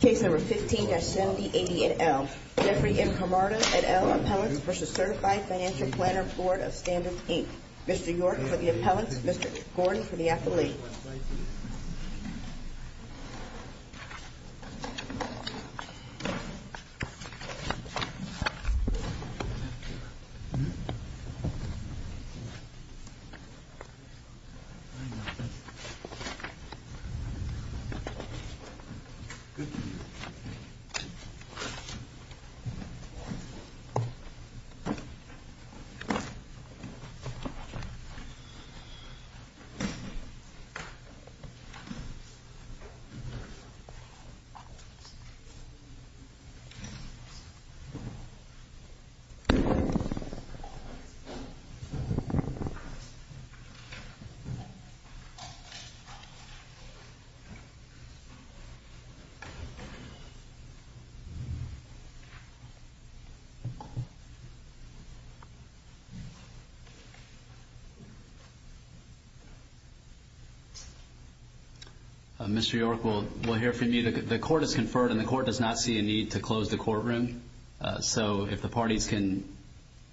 Case No. 15-7080 et al., Jeffrey M. Camarda et al., Appellants v. Certified Financial Planner Board of Standards, Inc. Mr. York for the appellants, Mr. Gordon for the appellees. Good evening. Mr. York, we'll hear from you. The court has conferred and the court does not see a need to close the courtroom. So if the parties can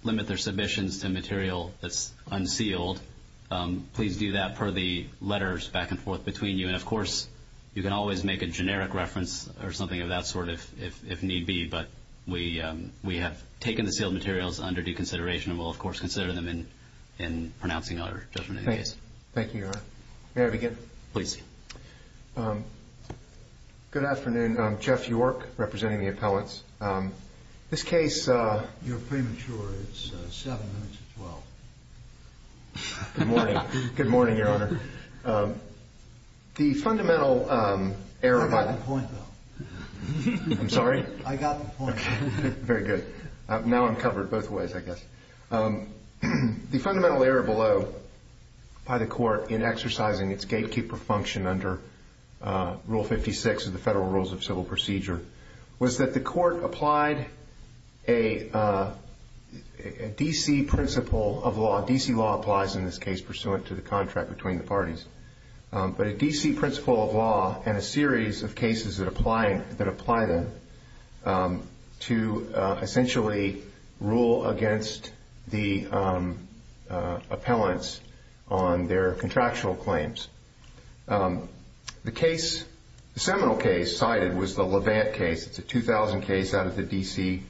limit their submissions to material that's unsealed, please do that per the letters back and forth between you. And, of course, you can always make a generic reference or something of that sort if need be. But we have taken the sealed materials under due consideration and we'll, of course, consider them in pronouncing our judgment in the case. Thank you, Your Honor. May I begin? Please. Good afternoon. I'm Jeff York representing the appellants. This case- You're premature. It's 7 minutes to 12. Good morning. Good morning, Your Honor. The fundamental error by- I got the point, though. I'm sorry? I got the point. Very good. Now I'm covered both ways, I guess. The fundamental error below by the court in exercising its gatekeeper function under Rule 56 of the Federal Rules of Civil Procedure was that the court applied a D.C. principle of law. D.C. law applies in this case pursuant to the contract between the parties. But a D.C. principle of law and a series of cases that apply them to essentially rule against the appellants on their contractual claims. The case, the seminal case cited was the Levant case. It's a 2000 case out of the D.C.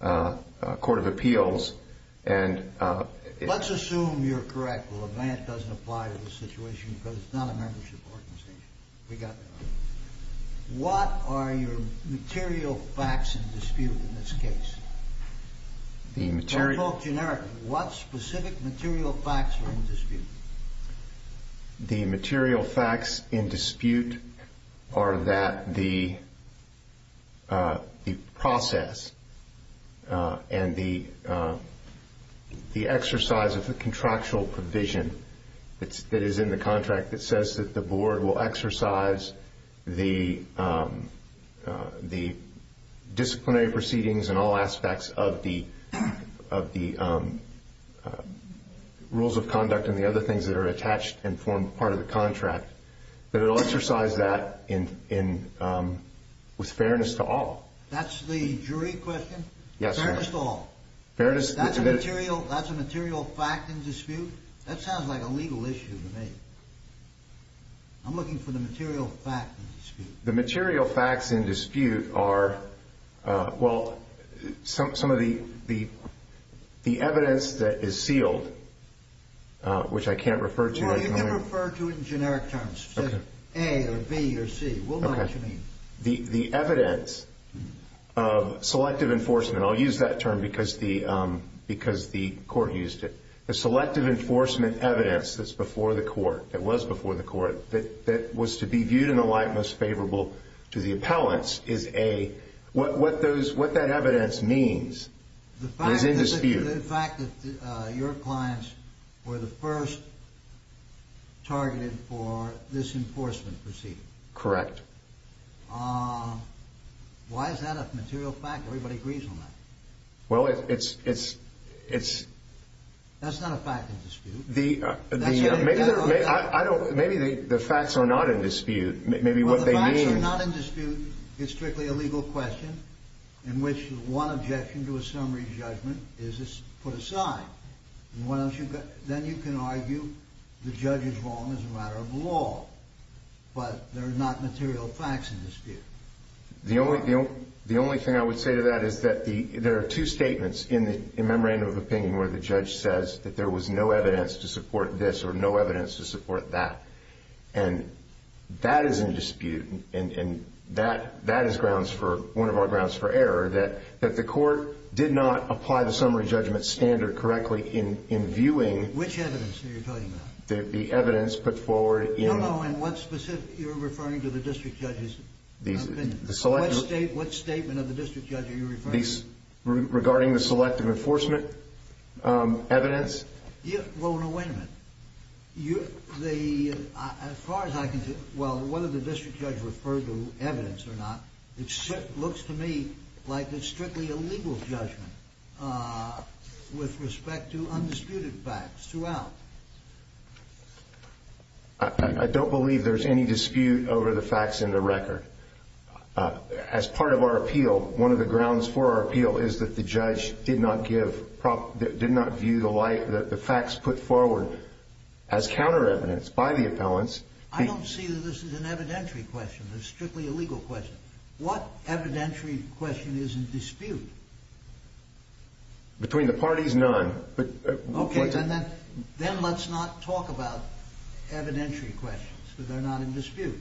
Court of Appeals. Let's assume you're correct. Well, Levant doesn't apply to this situation because it's not a membership organization. We got that. What are your material facts in dispute in this case? The material- Don't talk generically. What specific material facts are in dispute? The material facts in dispute are that the process and the exercise of the contractual provision that is in the contract that says that the board will exercise the disciplinary proceedings in all aspects of the rules of conduct and the other things that are attached and form part of the contract, that it will exercise that with fairness to all. That's the jury question? Yes, sir. Fairness to all. That's a material fact in dispute? That sounds like a legal issue to me. I'm looking for the material facts in dispute. The material facts in dispute are, well, some of the evidence that is sealed, which I can't refer to- Well, you can refer to it in generic terms. Say A or B or C. We'll know what you mean. The evidence of selective enforcement. I'll use that term because the court used it. The selective enforcement evidence that's before the court, that was before the court, that was to be viewed in a light most favorable to the appellants is a- What that evidence means is in dispute. The fact that your clients were the first targeted for this enforcement proceeding. Correct. Why is that a material fact? Everybody agrees on that. Well, it's- That's not a fact in dispute. Maybe the facts are not in dispute. Maybe what they mean- Well, the facts are not in dispute. It's strictly a legal question in which one objection to a summary judgment is put aside. Then you can argue the judge is wrong as a matter of law, but there are not material facts in dispute. The only thing I would say to that is that there are two statements in the memorandum of opinion where the judge says that there was no evidence to support this or no evidence to support that. That is in dispute, and that is one of our grounds for error, that the court did not apply the summary judgment standard correctly in viewing- Which evidence are you talking about? The evidence put forward in- I don't know in what specific you're referring to the district judge's opinion. What statement of the district judge are you referring to? Regarding the selective enforcement evidence? Well, no, wait a minute. As far as I can tell- Well, whether the district judge referred to evidence or not, it looks to me like it's strictly a legal judgment with respect to undisputed facts throughout. I don't believe there's any dispute over the facts in the record. As part of our appeal, one of the grounds for our appeal is that the judge did not give- did not view the facts put forward as counter evidence by the appellants. I don't see that this is an evidentiary question. It's strictly a legal question. What evidentiary question is in dispute? Between the parties, none. Okay, then let's not talk about evidentiary questions because they're not in dispute.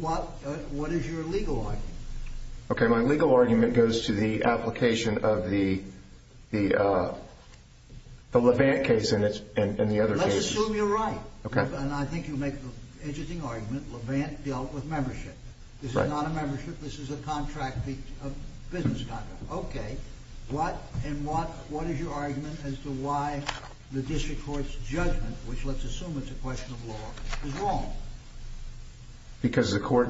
What is your legal argument? Okay, my legal argument goes to the application of the Levant case and the other cases. Let's assume you're right, and I think you make an interesting argument. Levant dealt with membership. This is not a membership. This is a contract, a business contract. Okay. And what is your argument as to why the district court's judgment, which let's assume it's a question of law, is wrong? Because the court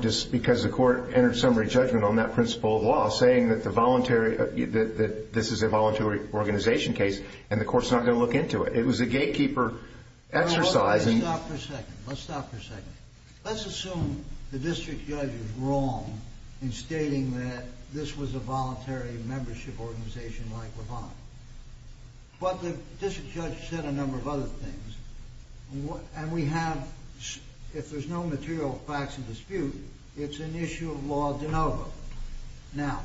entered summary judgment on that principle of law, saying that this is a voluntary organization case, and the court's not going to look into it. Let's stop for a second. Let's assume the district judge is wrong in stating that this was a voluntary membership organization like Levant. But the district judge said a number of other things, and we have, if there's no material facts of dispute, it's an issue of law de novo. Now,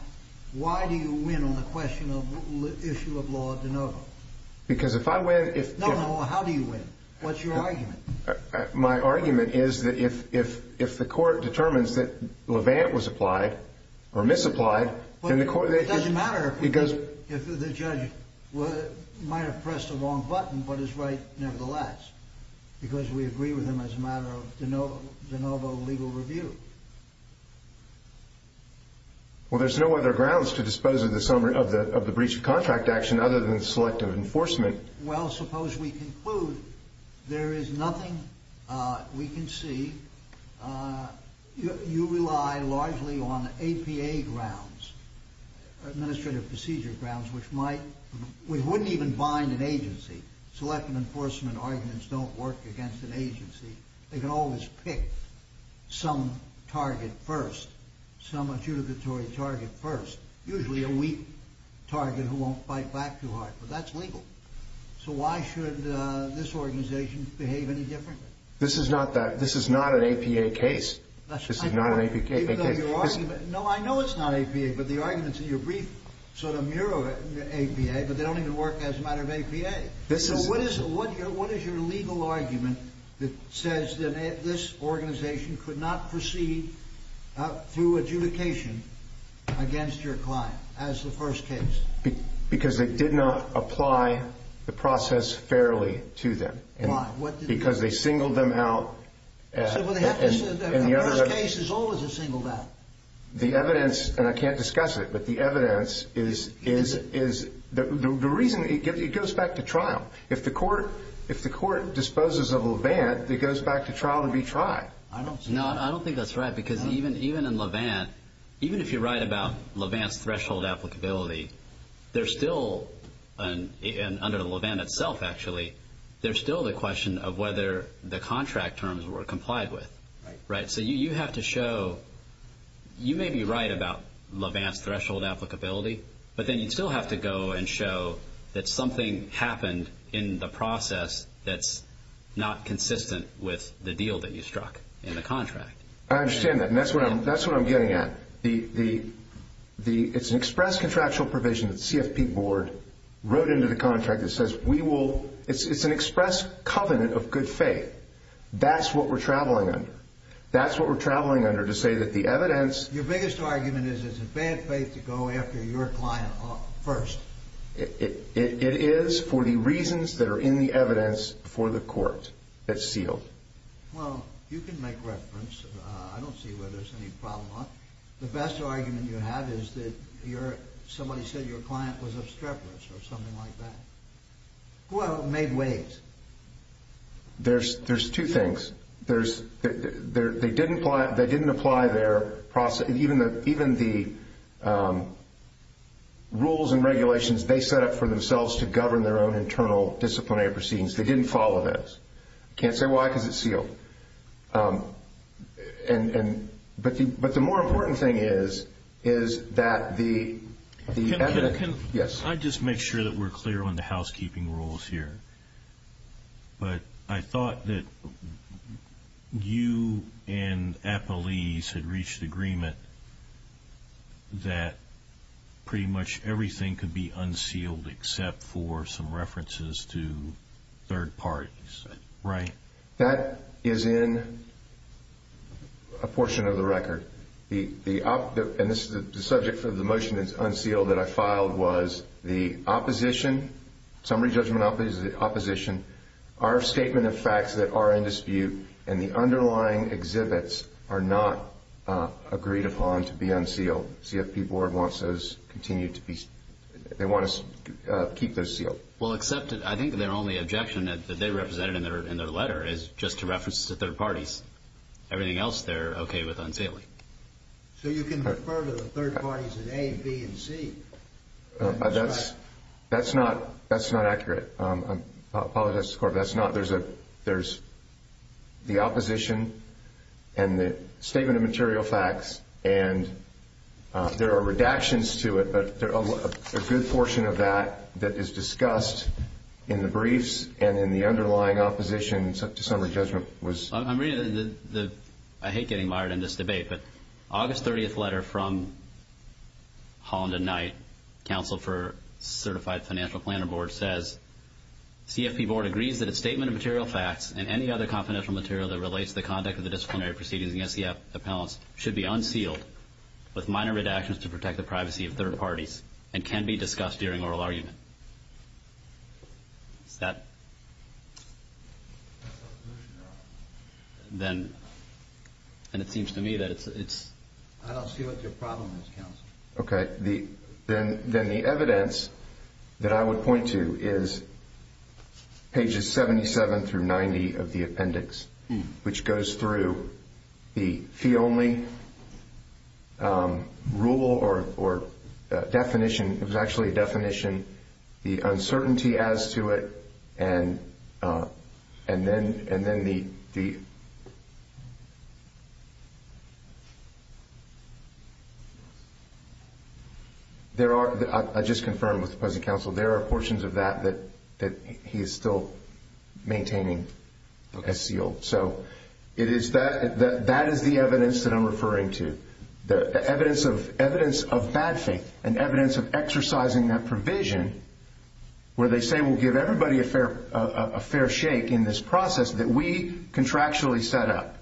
why do you win on the question of issue of law de novo? Because if I win if— No, no, how do you win? What's your argument? My argument is that if the court determines that Levant was applied or misapplied, then the court— But it doesn't matter if the judge might have pressed the wrong button, but is right nevertheless, because we agree with him as a matter of de novo legal review. Well, there's no other grounds to dispose of the breach of contract action other than selective enforcement. Well, suppose we conclude there is nothing we can see. You rely largely on APA grounds, administrative procedure grounds, which wouldn't even bind an agency. Selective enforcement arguments don't work against an agency. They can always pick some target first, some adjudicatory target first, usually a weak target who won't fight back too hard, but that's legal. So why should this organization behave any differently? This is not that—this is not an APA case. This is not an APA case. No, I know it's not APA, but the arguments in your brief sort of mirror APA, but they don't even work as a matter of APA. So what is your legal argument that says that this organization could not proceed through adjudication against your client as the first case? Because they did not apply the process fairly to them. Why? What did they do? Because they singled them out. So what happens is that the first case is always a singled out? The evidence—and I can't discuss it, but the evidence is— Is it? The reason—it goes back to trial. If the court disposes of Levant, it goes back to trial to be tried. I don't see that. No, I don't think that's right because even in Levant, even if you write about Levant's threshold applicability, there's still— and under Levant itself, actually, there's still the question of whether the contract terms were complied with. Right. So you have to show—you may be right about Levant's threshold applicability, but then you still have to go and show that something happened in the process that's not consistent with the deal that you struck in the contract. I understand that, and that's what I'm getting at. It's an express contractual provision that the CFP board wrote into the contract that says we will—it's an express covenant of good faith. That's what we're traveling under. That's what we're traveling under to say that the evidence— Your biggest argument is it's in bad faith to go after your client first. It is for the reasons that are in the evidence before the court. It's sealed. Well, you can make reference. I don't see where there's any problem. The best argument you have is that somebody said your client was obstreperous or something like that. Who else made waves? There's two things. They didn't apply their—even the rules and regulations they set up for themselves to govern their own internal disciplinary proceedings. They didn't follow those. I can't say why because it's sealed. But the more important thing is that the evidence— Can I just make sure that we're clear on the housekeeping rules here? But I thought that you and Appalese had reached agreement that pretty much everything could be unsealed except for some references to third parties, right? That is in a portion of the record. The subject for the motion that's unsealed that I filed was the opposition, summary judgment opposition, our statement of facts that are in dispute, and the underlying exhibits are not agreed upon to be unsealed. CFP Board wants those continued to be—they want us to keep those sealed. Well, except I think their only objection that they represented in their letter is just to reference to third parties. Everything else they're okay with unsealing. So you can refer to the third parties in A, B, and C. That's not accurate. I apologize to the Court, but that's not— There's the opposition and the statement of material facts, and there are redactions to it, but a good portion of that that is discussed in the briefs and in the underlying opposition to summary judgment was— I'm reading the—I hate getting mired in this debate, but August 30th letter from Holland and Knight, Counsel for Certified Financial Planner Board, says, CFP Board agrees that a statement of material facts and any other confidential material that relates to the conduct of the disciplinary proceedings against the appellants should be unsealed with minor redactions to protect the privacy of third parties and can be discussed during oral argument. Is that— That's the solution, Your Honor. Then—and it seems to me that it's— I don't see what your problem is, Counsel. Okay. Then the evidence that I would point to is pages 77 through 90 of the appendix, which goes through the fee-only rule or definition—it was actually a definition— there are—I just confirmed with the opposing counsel, there are portions of that that he is still maintaining as sealed. So it is that—that is the evidence that I'm referring to, the evidence of bad faith and evidence of exercising that provision where they say we'll give everybody a fair shake in this process that we contractually set up.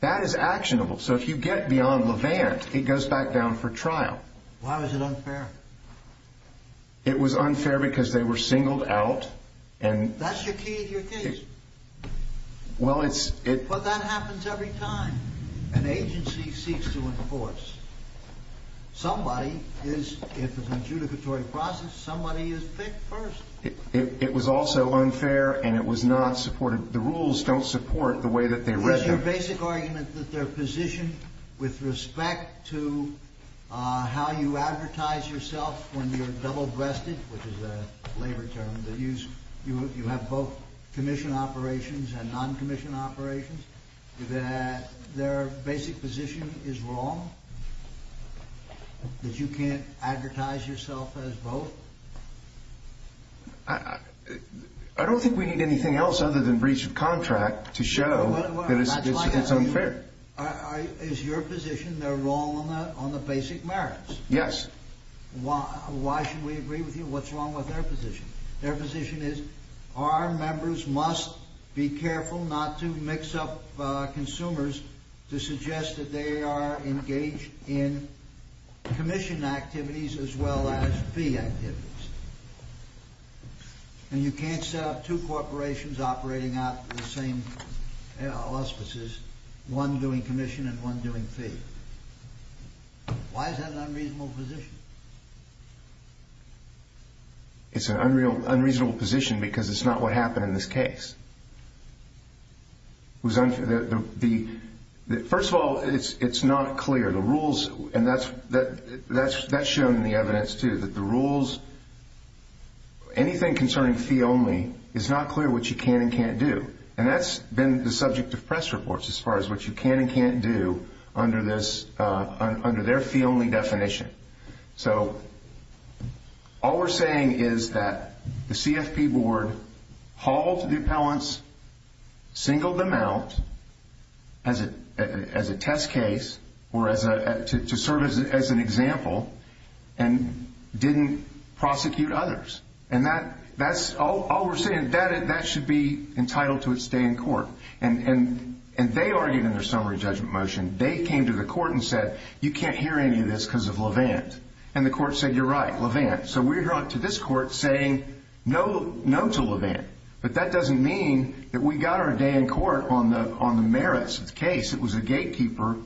That is actionable. So if you get beyond Levant, it goes back down for trial. Why was it unfair? It was unfair because they were singled out and— That's your key to your case. Well, it's— But that happens every time. An agency seeks to enforce. Somebody is—if it's an adjudicatory process, somebody is picked first. It was also unfair and it was not supported. The rules don't support the way that they— Your basic argument that their position with respect to how you advertise yourself when you're double-breasted, which is a labor term that you use— you have both commissioned operations and non-commissioned operations, that their basic position is wrong, that you can't advertise yourself as both? I don't think we need anything else other than breach of contract to show that it's unfair. Is your position they're wrong on the basic merits? Yes. Why should we agree with you? What's wrong with their position? Their position is our members must be careful not to mix up consumers to suggest that they are engaged in commission activities as well as fee activities. And you can't set up two corporations operating out of the same auspices, one doing commission and one doing fee. Why is that an unreasonable position? It's an unreasonable position because it's not what happened in this case. First of all, it's not clear. The rules—and that's shown in the evidence, too—that the rules, anything concerning fee only, is not clear what you can and can't do. And that's been the subject of press reports as far as what you can and can't do under their fee only definition. So all we're saying is that the CFP board hauled the appellants, singled them out as a test case or to serve as an example, and didn't prosecute others. And that's all we're saying. That should be entitled to its day in court. And they argued in their summary judgment motion. They came to the court and said, you can't hear any of this because of Levant. And the court said, you're right, Levant. So we're going to this court saying no to Levant. But that doesn't mean that we got our day in court on the merits of the case. It was a gatekeeper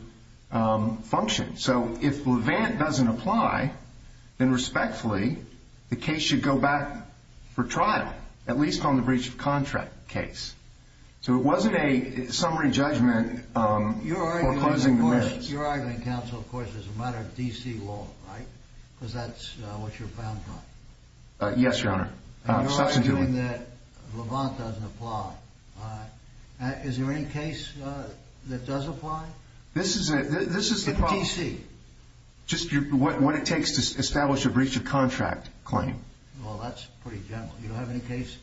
function. So if Levant doesn't apply, then respectfully the case should go back for trial, at least on the breach of contract case. So it wasn't a summary judgment foreclosing the missions. Your argument, counsel, of course, is a matter of D.C. law, right? Because that's what you're bound by. Yes, Your Honor. And you're arguing that Levant doesn't apply. Is there any case that does apply? This is the problem. In D.C.? Just what it takes to establish a breach of contract claim. Well, that's pretty general. You don't have any case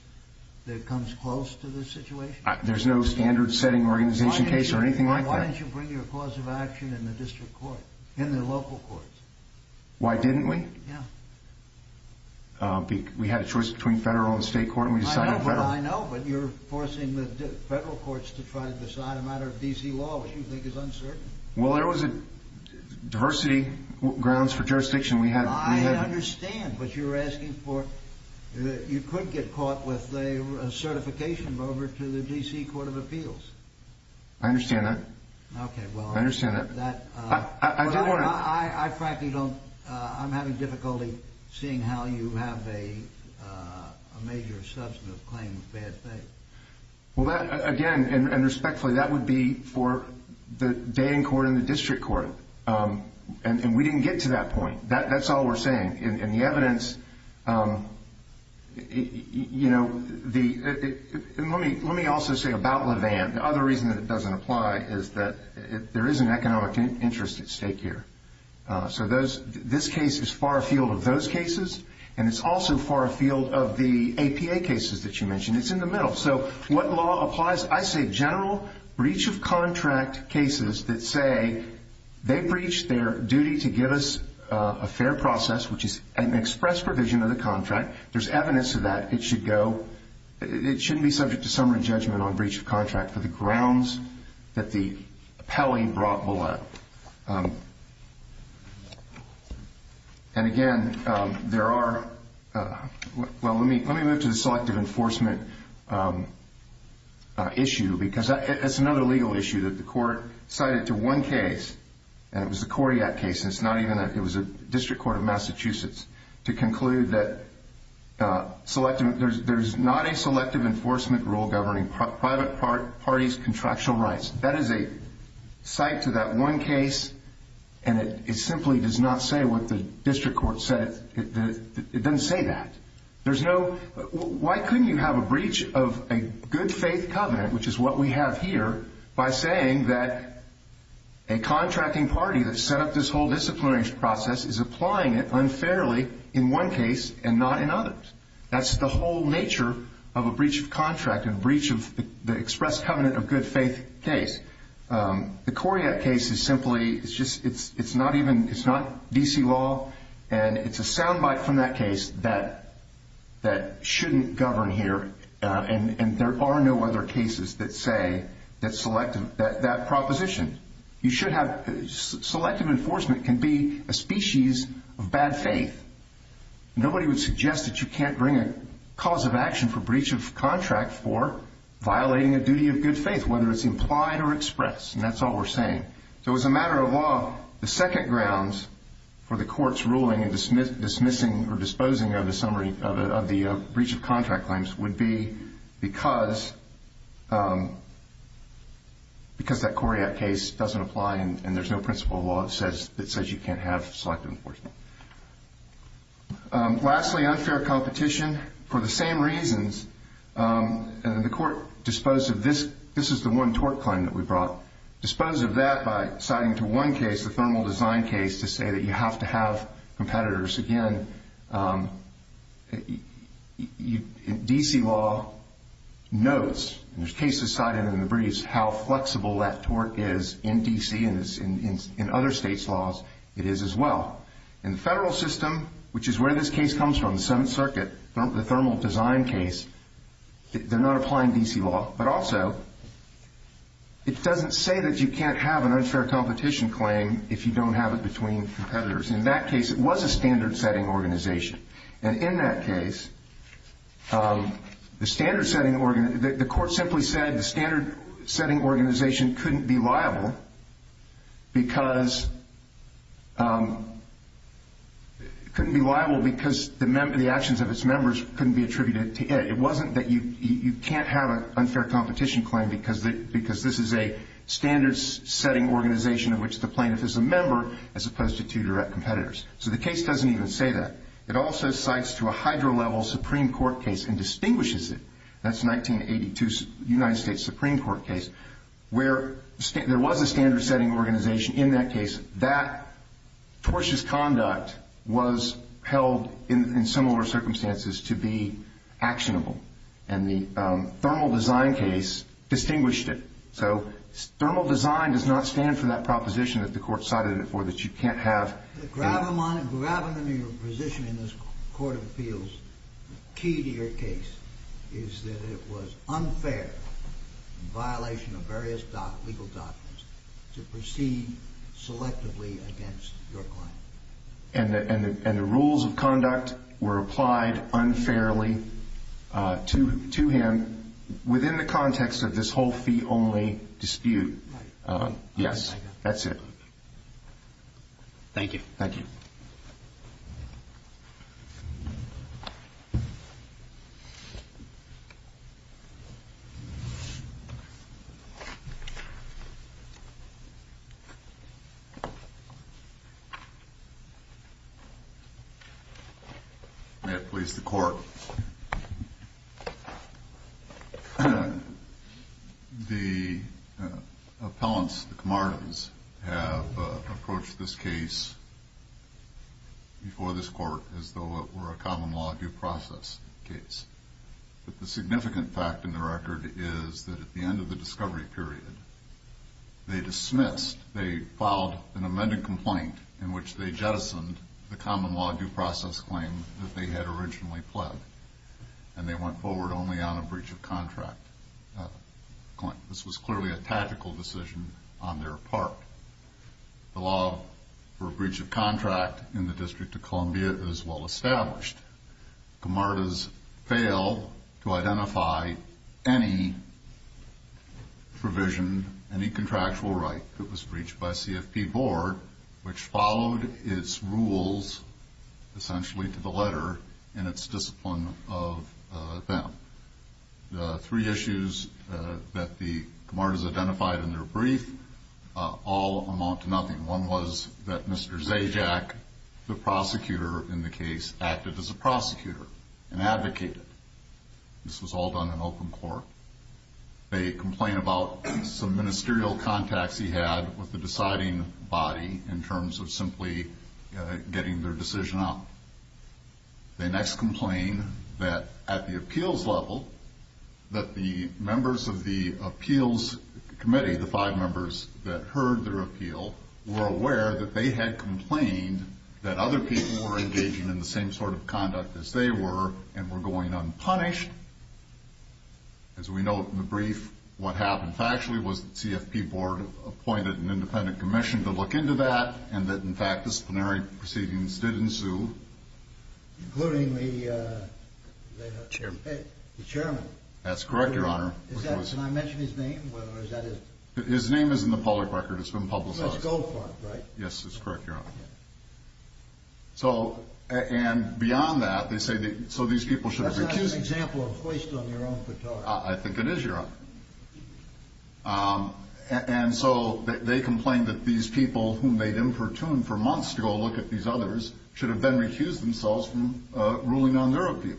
that comes close to this situation? There's no standard-setting organization case or anything like that. Why didn't you bring your cause of action in the district court, in the local courts? Why didn't we? Yeah. We had a choice between federal and state court, and we decided federal. I know, but you're forcing the federal courts to try to decide a matter of D.C. law, which you think is uncertain. Well, there was diversity grounds for jurisdiction. I understand, but you're asking for you could get caught with a certification over to the D.C. Court of Appeals. I understand that. Okay, well, I'm having difficulty seeing how you have a major substantive claim of bad faith. Well, again, and respectfully, that would be for the dating court and the district court. And we didn't get to that point. That's all we're saying. In the evidence, you know, let me also say about Levan, the other reason that it doesn't apply is that there is an economic interest at stake here. So this case is far afield of those cases, and it's also far afield of the APA cases that you mentioned. It's in the middle. So what law applies? I say general breach of contract cases that say they breached their duty to give us a fair process, which is an express provision of the contract. There's evidence of that. It should go. It shouldn't be subject to summary judgment on breach of contract for the grounds that the appellee brought below. And, again, there are – well, let me move to the selective enforcement issue, because it's another legal issue that the court cited to one case, and it was a Coriat case, and it's not even a – it was a district court of Massachusetts, to conclude that there's not a selective enforcement rule governing private parties' contractual rights. That is a cite to that one case, and it simply does not say what the district court said. It doesn't say that. There's no – why couldn't you have a breach of a good faith covenant, which is what we have here, by saying that a contracting party that set up this whole disciplinary process is applying it unfairly in one case and not in others? That's the whole nature of a breach of contract and breach of the express covenant of good faith case. The Coriat case is simply – it's just – it's not even – it's not D.C. law, and it's a sound bite from that case that shouldn't govern here, and there are no other cases that say that selective – that proposition. You should have – selective enforcement can be a species of bad faith. Nobody would suggest that you can't bring a cause of action for breach of contract for violating a duty of good faith, whether it's implied or expressed, and that's all we're saying. So as a matter of law, the second grounds for the court's ruling and dismissing or disposing of the summary of the breach of contract claims would be because that Coriat case doesn't apply and there's no principle of law that says you can't have selective enforcement. Lastly, unfair competition. For the same reasons, the court disposed of this – this is the one tort claim that we brought – disposed of that by citing to one case, the thermal design case, to say that you have to have competitors. Again, D.C. law knows, and there's cases cited in the briefs, how flexible that tort is in D.C. and in other states' laws it is as well. In the federal system, which is where this case comes from, the Seventh Circuit, the thermal design case, they're not applying D.C. law, but also it doesn't say that you can't have an unfair competition claim if you don't have it between competitors. In that case, it was a standard-setting organization. And in that case, the standard-setting – the court simply said the standard-setting organization couldn't be liable because – couldn't be liable because the actions of its members couldn't be attributed to it. It wasn't that you can't have an unfair competition claim because this is a standard-setting organization in which the plaintiff is a member as opposed to two direct competitors. So the case doesn't even say that. It also cites to a hydro-level Supreme Court case and distinguishes it. That's 1982 United States Supreme Court case where there was a standard-setting organization. In that case, that tortious conduct was held in similar circumstances to be actionable. And the thermal design case distinguished it. So thermal design does not stand for that proposition that the court cited it for, that you can't have – The gravimony or position in this court of appeals, key to your case, is that it was unfair in violation of various legal documents to proceed selectively against your claim. And the rules of conduct were applied unfairly to him within the context of this whole fee-only dispute. Yes, that's it. Thank you. Thank you. May it please the Court. The appellants, the Camardens, have approached this case before this court as though it were a common-law due process case. But the significant fact in the record is that at the end of the discovery period, they dismissed – they filed an amended complaint in which they jettisoned the common-law due process claim that they had originally pled. And they went forward only on a breach of contract claim. This was clearly a tactical decision on their part. The law for a breach of contract in the District of Columbia is well-established. Camardens fail to identify any provision, any contractual right that was breached by CFP Board, which followed its rules essentially to the letter in its discipline of them. The three issues that the Camardens identified in their brief all amount to nothing. One was that Mr. Zajac, the prosecutor in the case, acted as a prosecutor and advocated. This was all done in open court. They complain about some ministerial contacts he had with the deciding body in terms of simply getting their decision out. They next complain that at the appeals level, that the members of the appeals committee, the five members that heard their appeal, were aware that they had complained that other people were engaging in the same sort of conduct as they were and were going unpunished. As we note in the brief, what happened factually was that CFP Board appointed an independent commission to look into that and that, in fact, disciplinary proceedings did ensue. Including the chairman? That's correct, Your Honor. Can I mention his name? His name is in the public record. It's been publicized. It's Goldfarb, right? Yes, that's correct, Your Honor. And beyond that, they say that these people should have been accused. That's not an example of hoist on your own petard. I think it is, Your Honor. And so they complain that these people, whom they'd infertuned for months to go look at these others, should have been recused themselves from ruling on their appeal.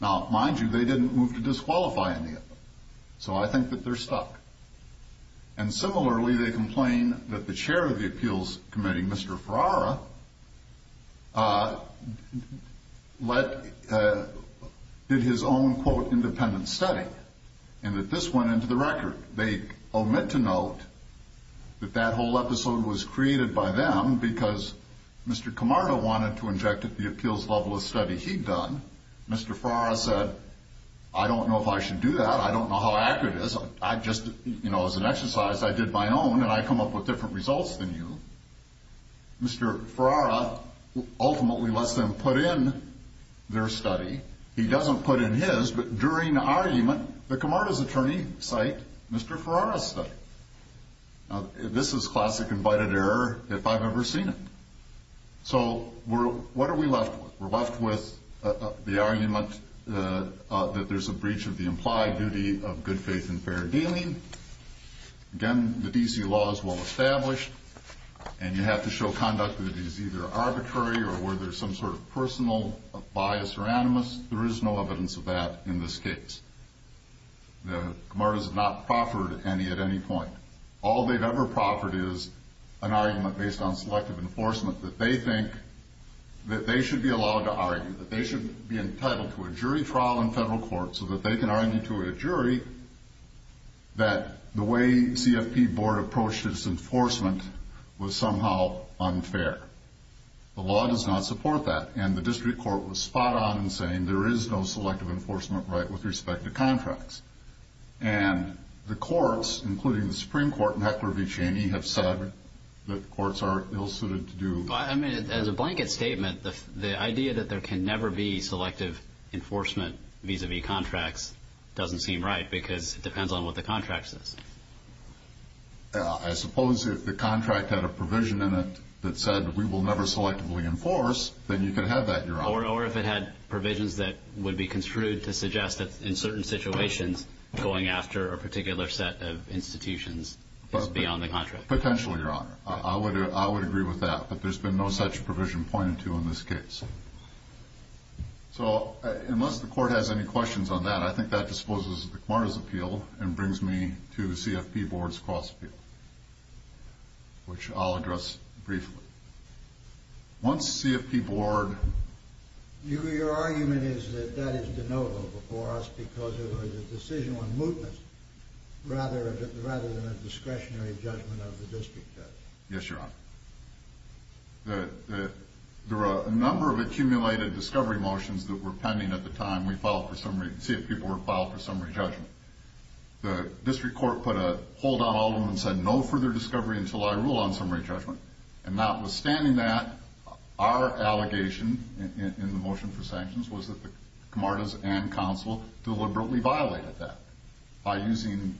Now, mind you, they didn't move to disqualify any of them. So I think that they're stuck. And similarly, they complain that the chair of the appeals committee, Mr. Ferrara, did his own, quote, independent study and that this went into the record. They omit to note that that whole episode was created by them because Mr. Camarda wanted to inject at the appeals level a study he'd done. Mr. Ferrara said, I don't know if I should do that. I don't know how accurate it is. I just, you know, as an exercise, I did my own, and I come up with different results than you. Mr. Ferrara ultimately lets them put in their study. He doesn't put in his, but during the argument, the Camardas attorney cited Mr. Ferrara's study. Now, this is classic invited error if I've ever seen it. So what are we left with? We're left with the argument that there's a breach of the implied duty of good faith and fair dealing. Again, the D.C. law is well established, and you have to show conduct that is either arbitrary or where there's some sort of personal bias or animus. There is no evidence of that in this case. The Camardas have not proffered any at any point. All they've ever proffered is an argument based on selective enforcement that they think that they should be allowed to argue, that they should be entitled to a jury trial in federal court so that they can argue to a jury that the way CFP board approached its enforcement was somehow unfair. The law does not support that, and the district court was spot on in saying there is no selective enforcement right with respect to contracts. And the courts, including the Supreme Court and Heckler v. Cheney, have said that courts are ill-suited to do that. I mean, as a blanket statement, the idea that there can never be selective enforcement vis-a-vis contracts doesn't seem right because it depends on what the contract says. I suppose if the contract had a provision in it that said we will never selectively enforce, then you could have that, Your Honor. Or if it had provisions that would be construed to suggest that in certain situations going after a particular set of institutions is beyond the contract. Potentially, Your Honor. I would agree with that, but there's been no such provision pointed to in this case. So unless the court has any questions on that, I think that disposes of the Quarters' appeal and brings me to the CFP board's cross-appeal, which I'll address briefly. Once CFP board... Your argument is that that is de novo before us because it was a decision on mootness rather than a discretionary judgment of the district judge. Yes, Your Honor. There were a number of accumulated discovery motions that were pending at the time we filed for summary to see if people would file for summary judgment. The district court put a hold on all of them and said no further discovery until I rule on summary judgment. And notwithstanding that, our allegation in the motion for sanctions was that the Comardes and counsel deliberately violated that by using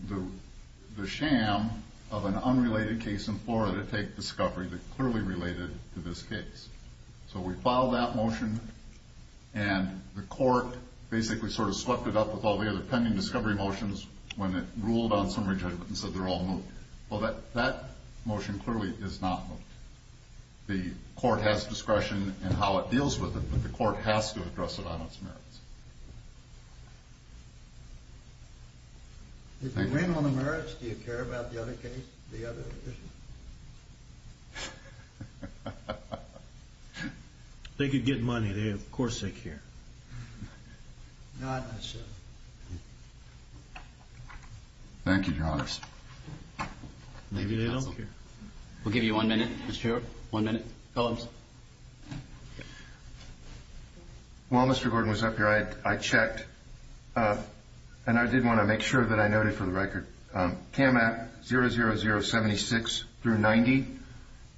the sham of an unrelated case in Florida to take discovery that clearly related to this case. So we filed that motion, and the court basically sort of swept it up with all the other pending discovery motions when it ruled on summary judgment and said they're all moot. Well, that motion clearly is not moot. The court has discretion in how it deals with it, but the court has to address it on its merits. If they win on the merits, do you care about the other case, the other addition? If they could get money, of course they'd care. Not necessarily. Thank you, Your Honor. Maybe they don't care. We'll give you one minute, Mr. Stewart. One minute. Phillips. While Mr. Gordon was up here, I checked, and I did want to make sure that I noted for the record CAM Act 00076-90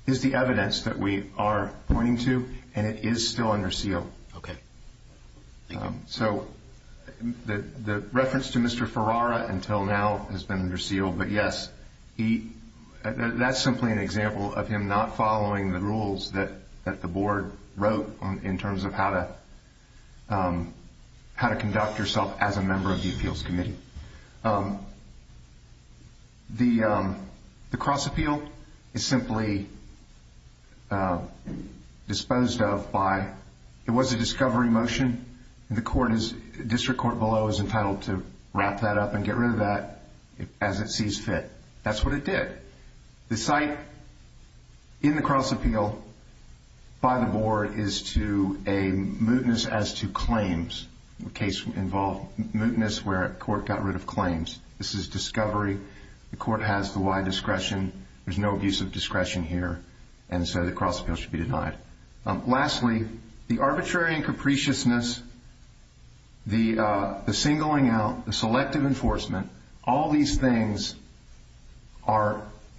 is the evidence that we are pointing to, and it is still under seal. Okay. Thank you. So the reference to Mr. Ferrara until now has been under seal, but yes, that's simply an example of him not following the rules that the board wrote in terms of how to conduct yourself as a member of the appeals committee. The cross-appeal is simply disposed of by—it was a discovery motion. The district court below is entitled to wrap that up and get rid of that as it sees fit. That's what it did. The cite in the cross-appeal by the board is to a mootness as to claims. The case involved mootness where a court got rid of claims. This is discovery. The court has the wide discretion. There's no abuse of discretion here, and so the cross-appeal should be denied. Lastly, the arbitrary and capriciousness, the singling out, the selective enforcement, all these things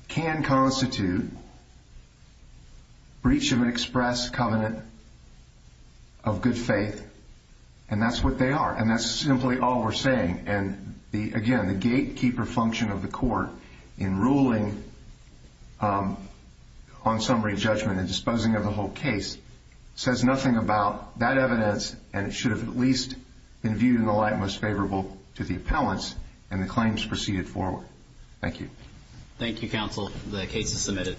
can constitute breach of an express covenant of good faith, and that's what they are, and that's simply all we're saying. Again, the gatekeeper function of the court in ruling on summary judgment and disposing of the whole case says nothing about that evidence, and it should have at least been viewed in the light most favorable to the appellants and the claims proceeded forward. Thank you. The case is submitted.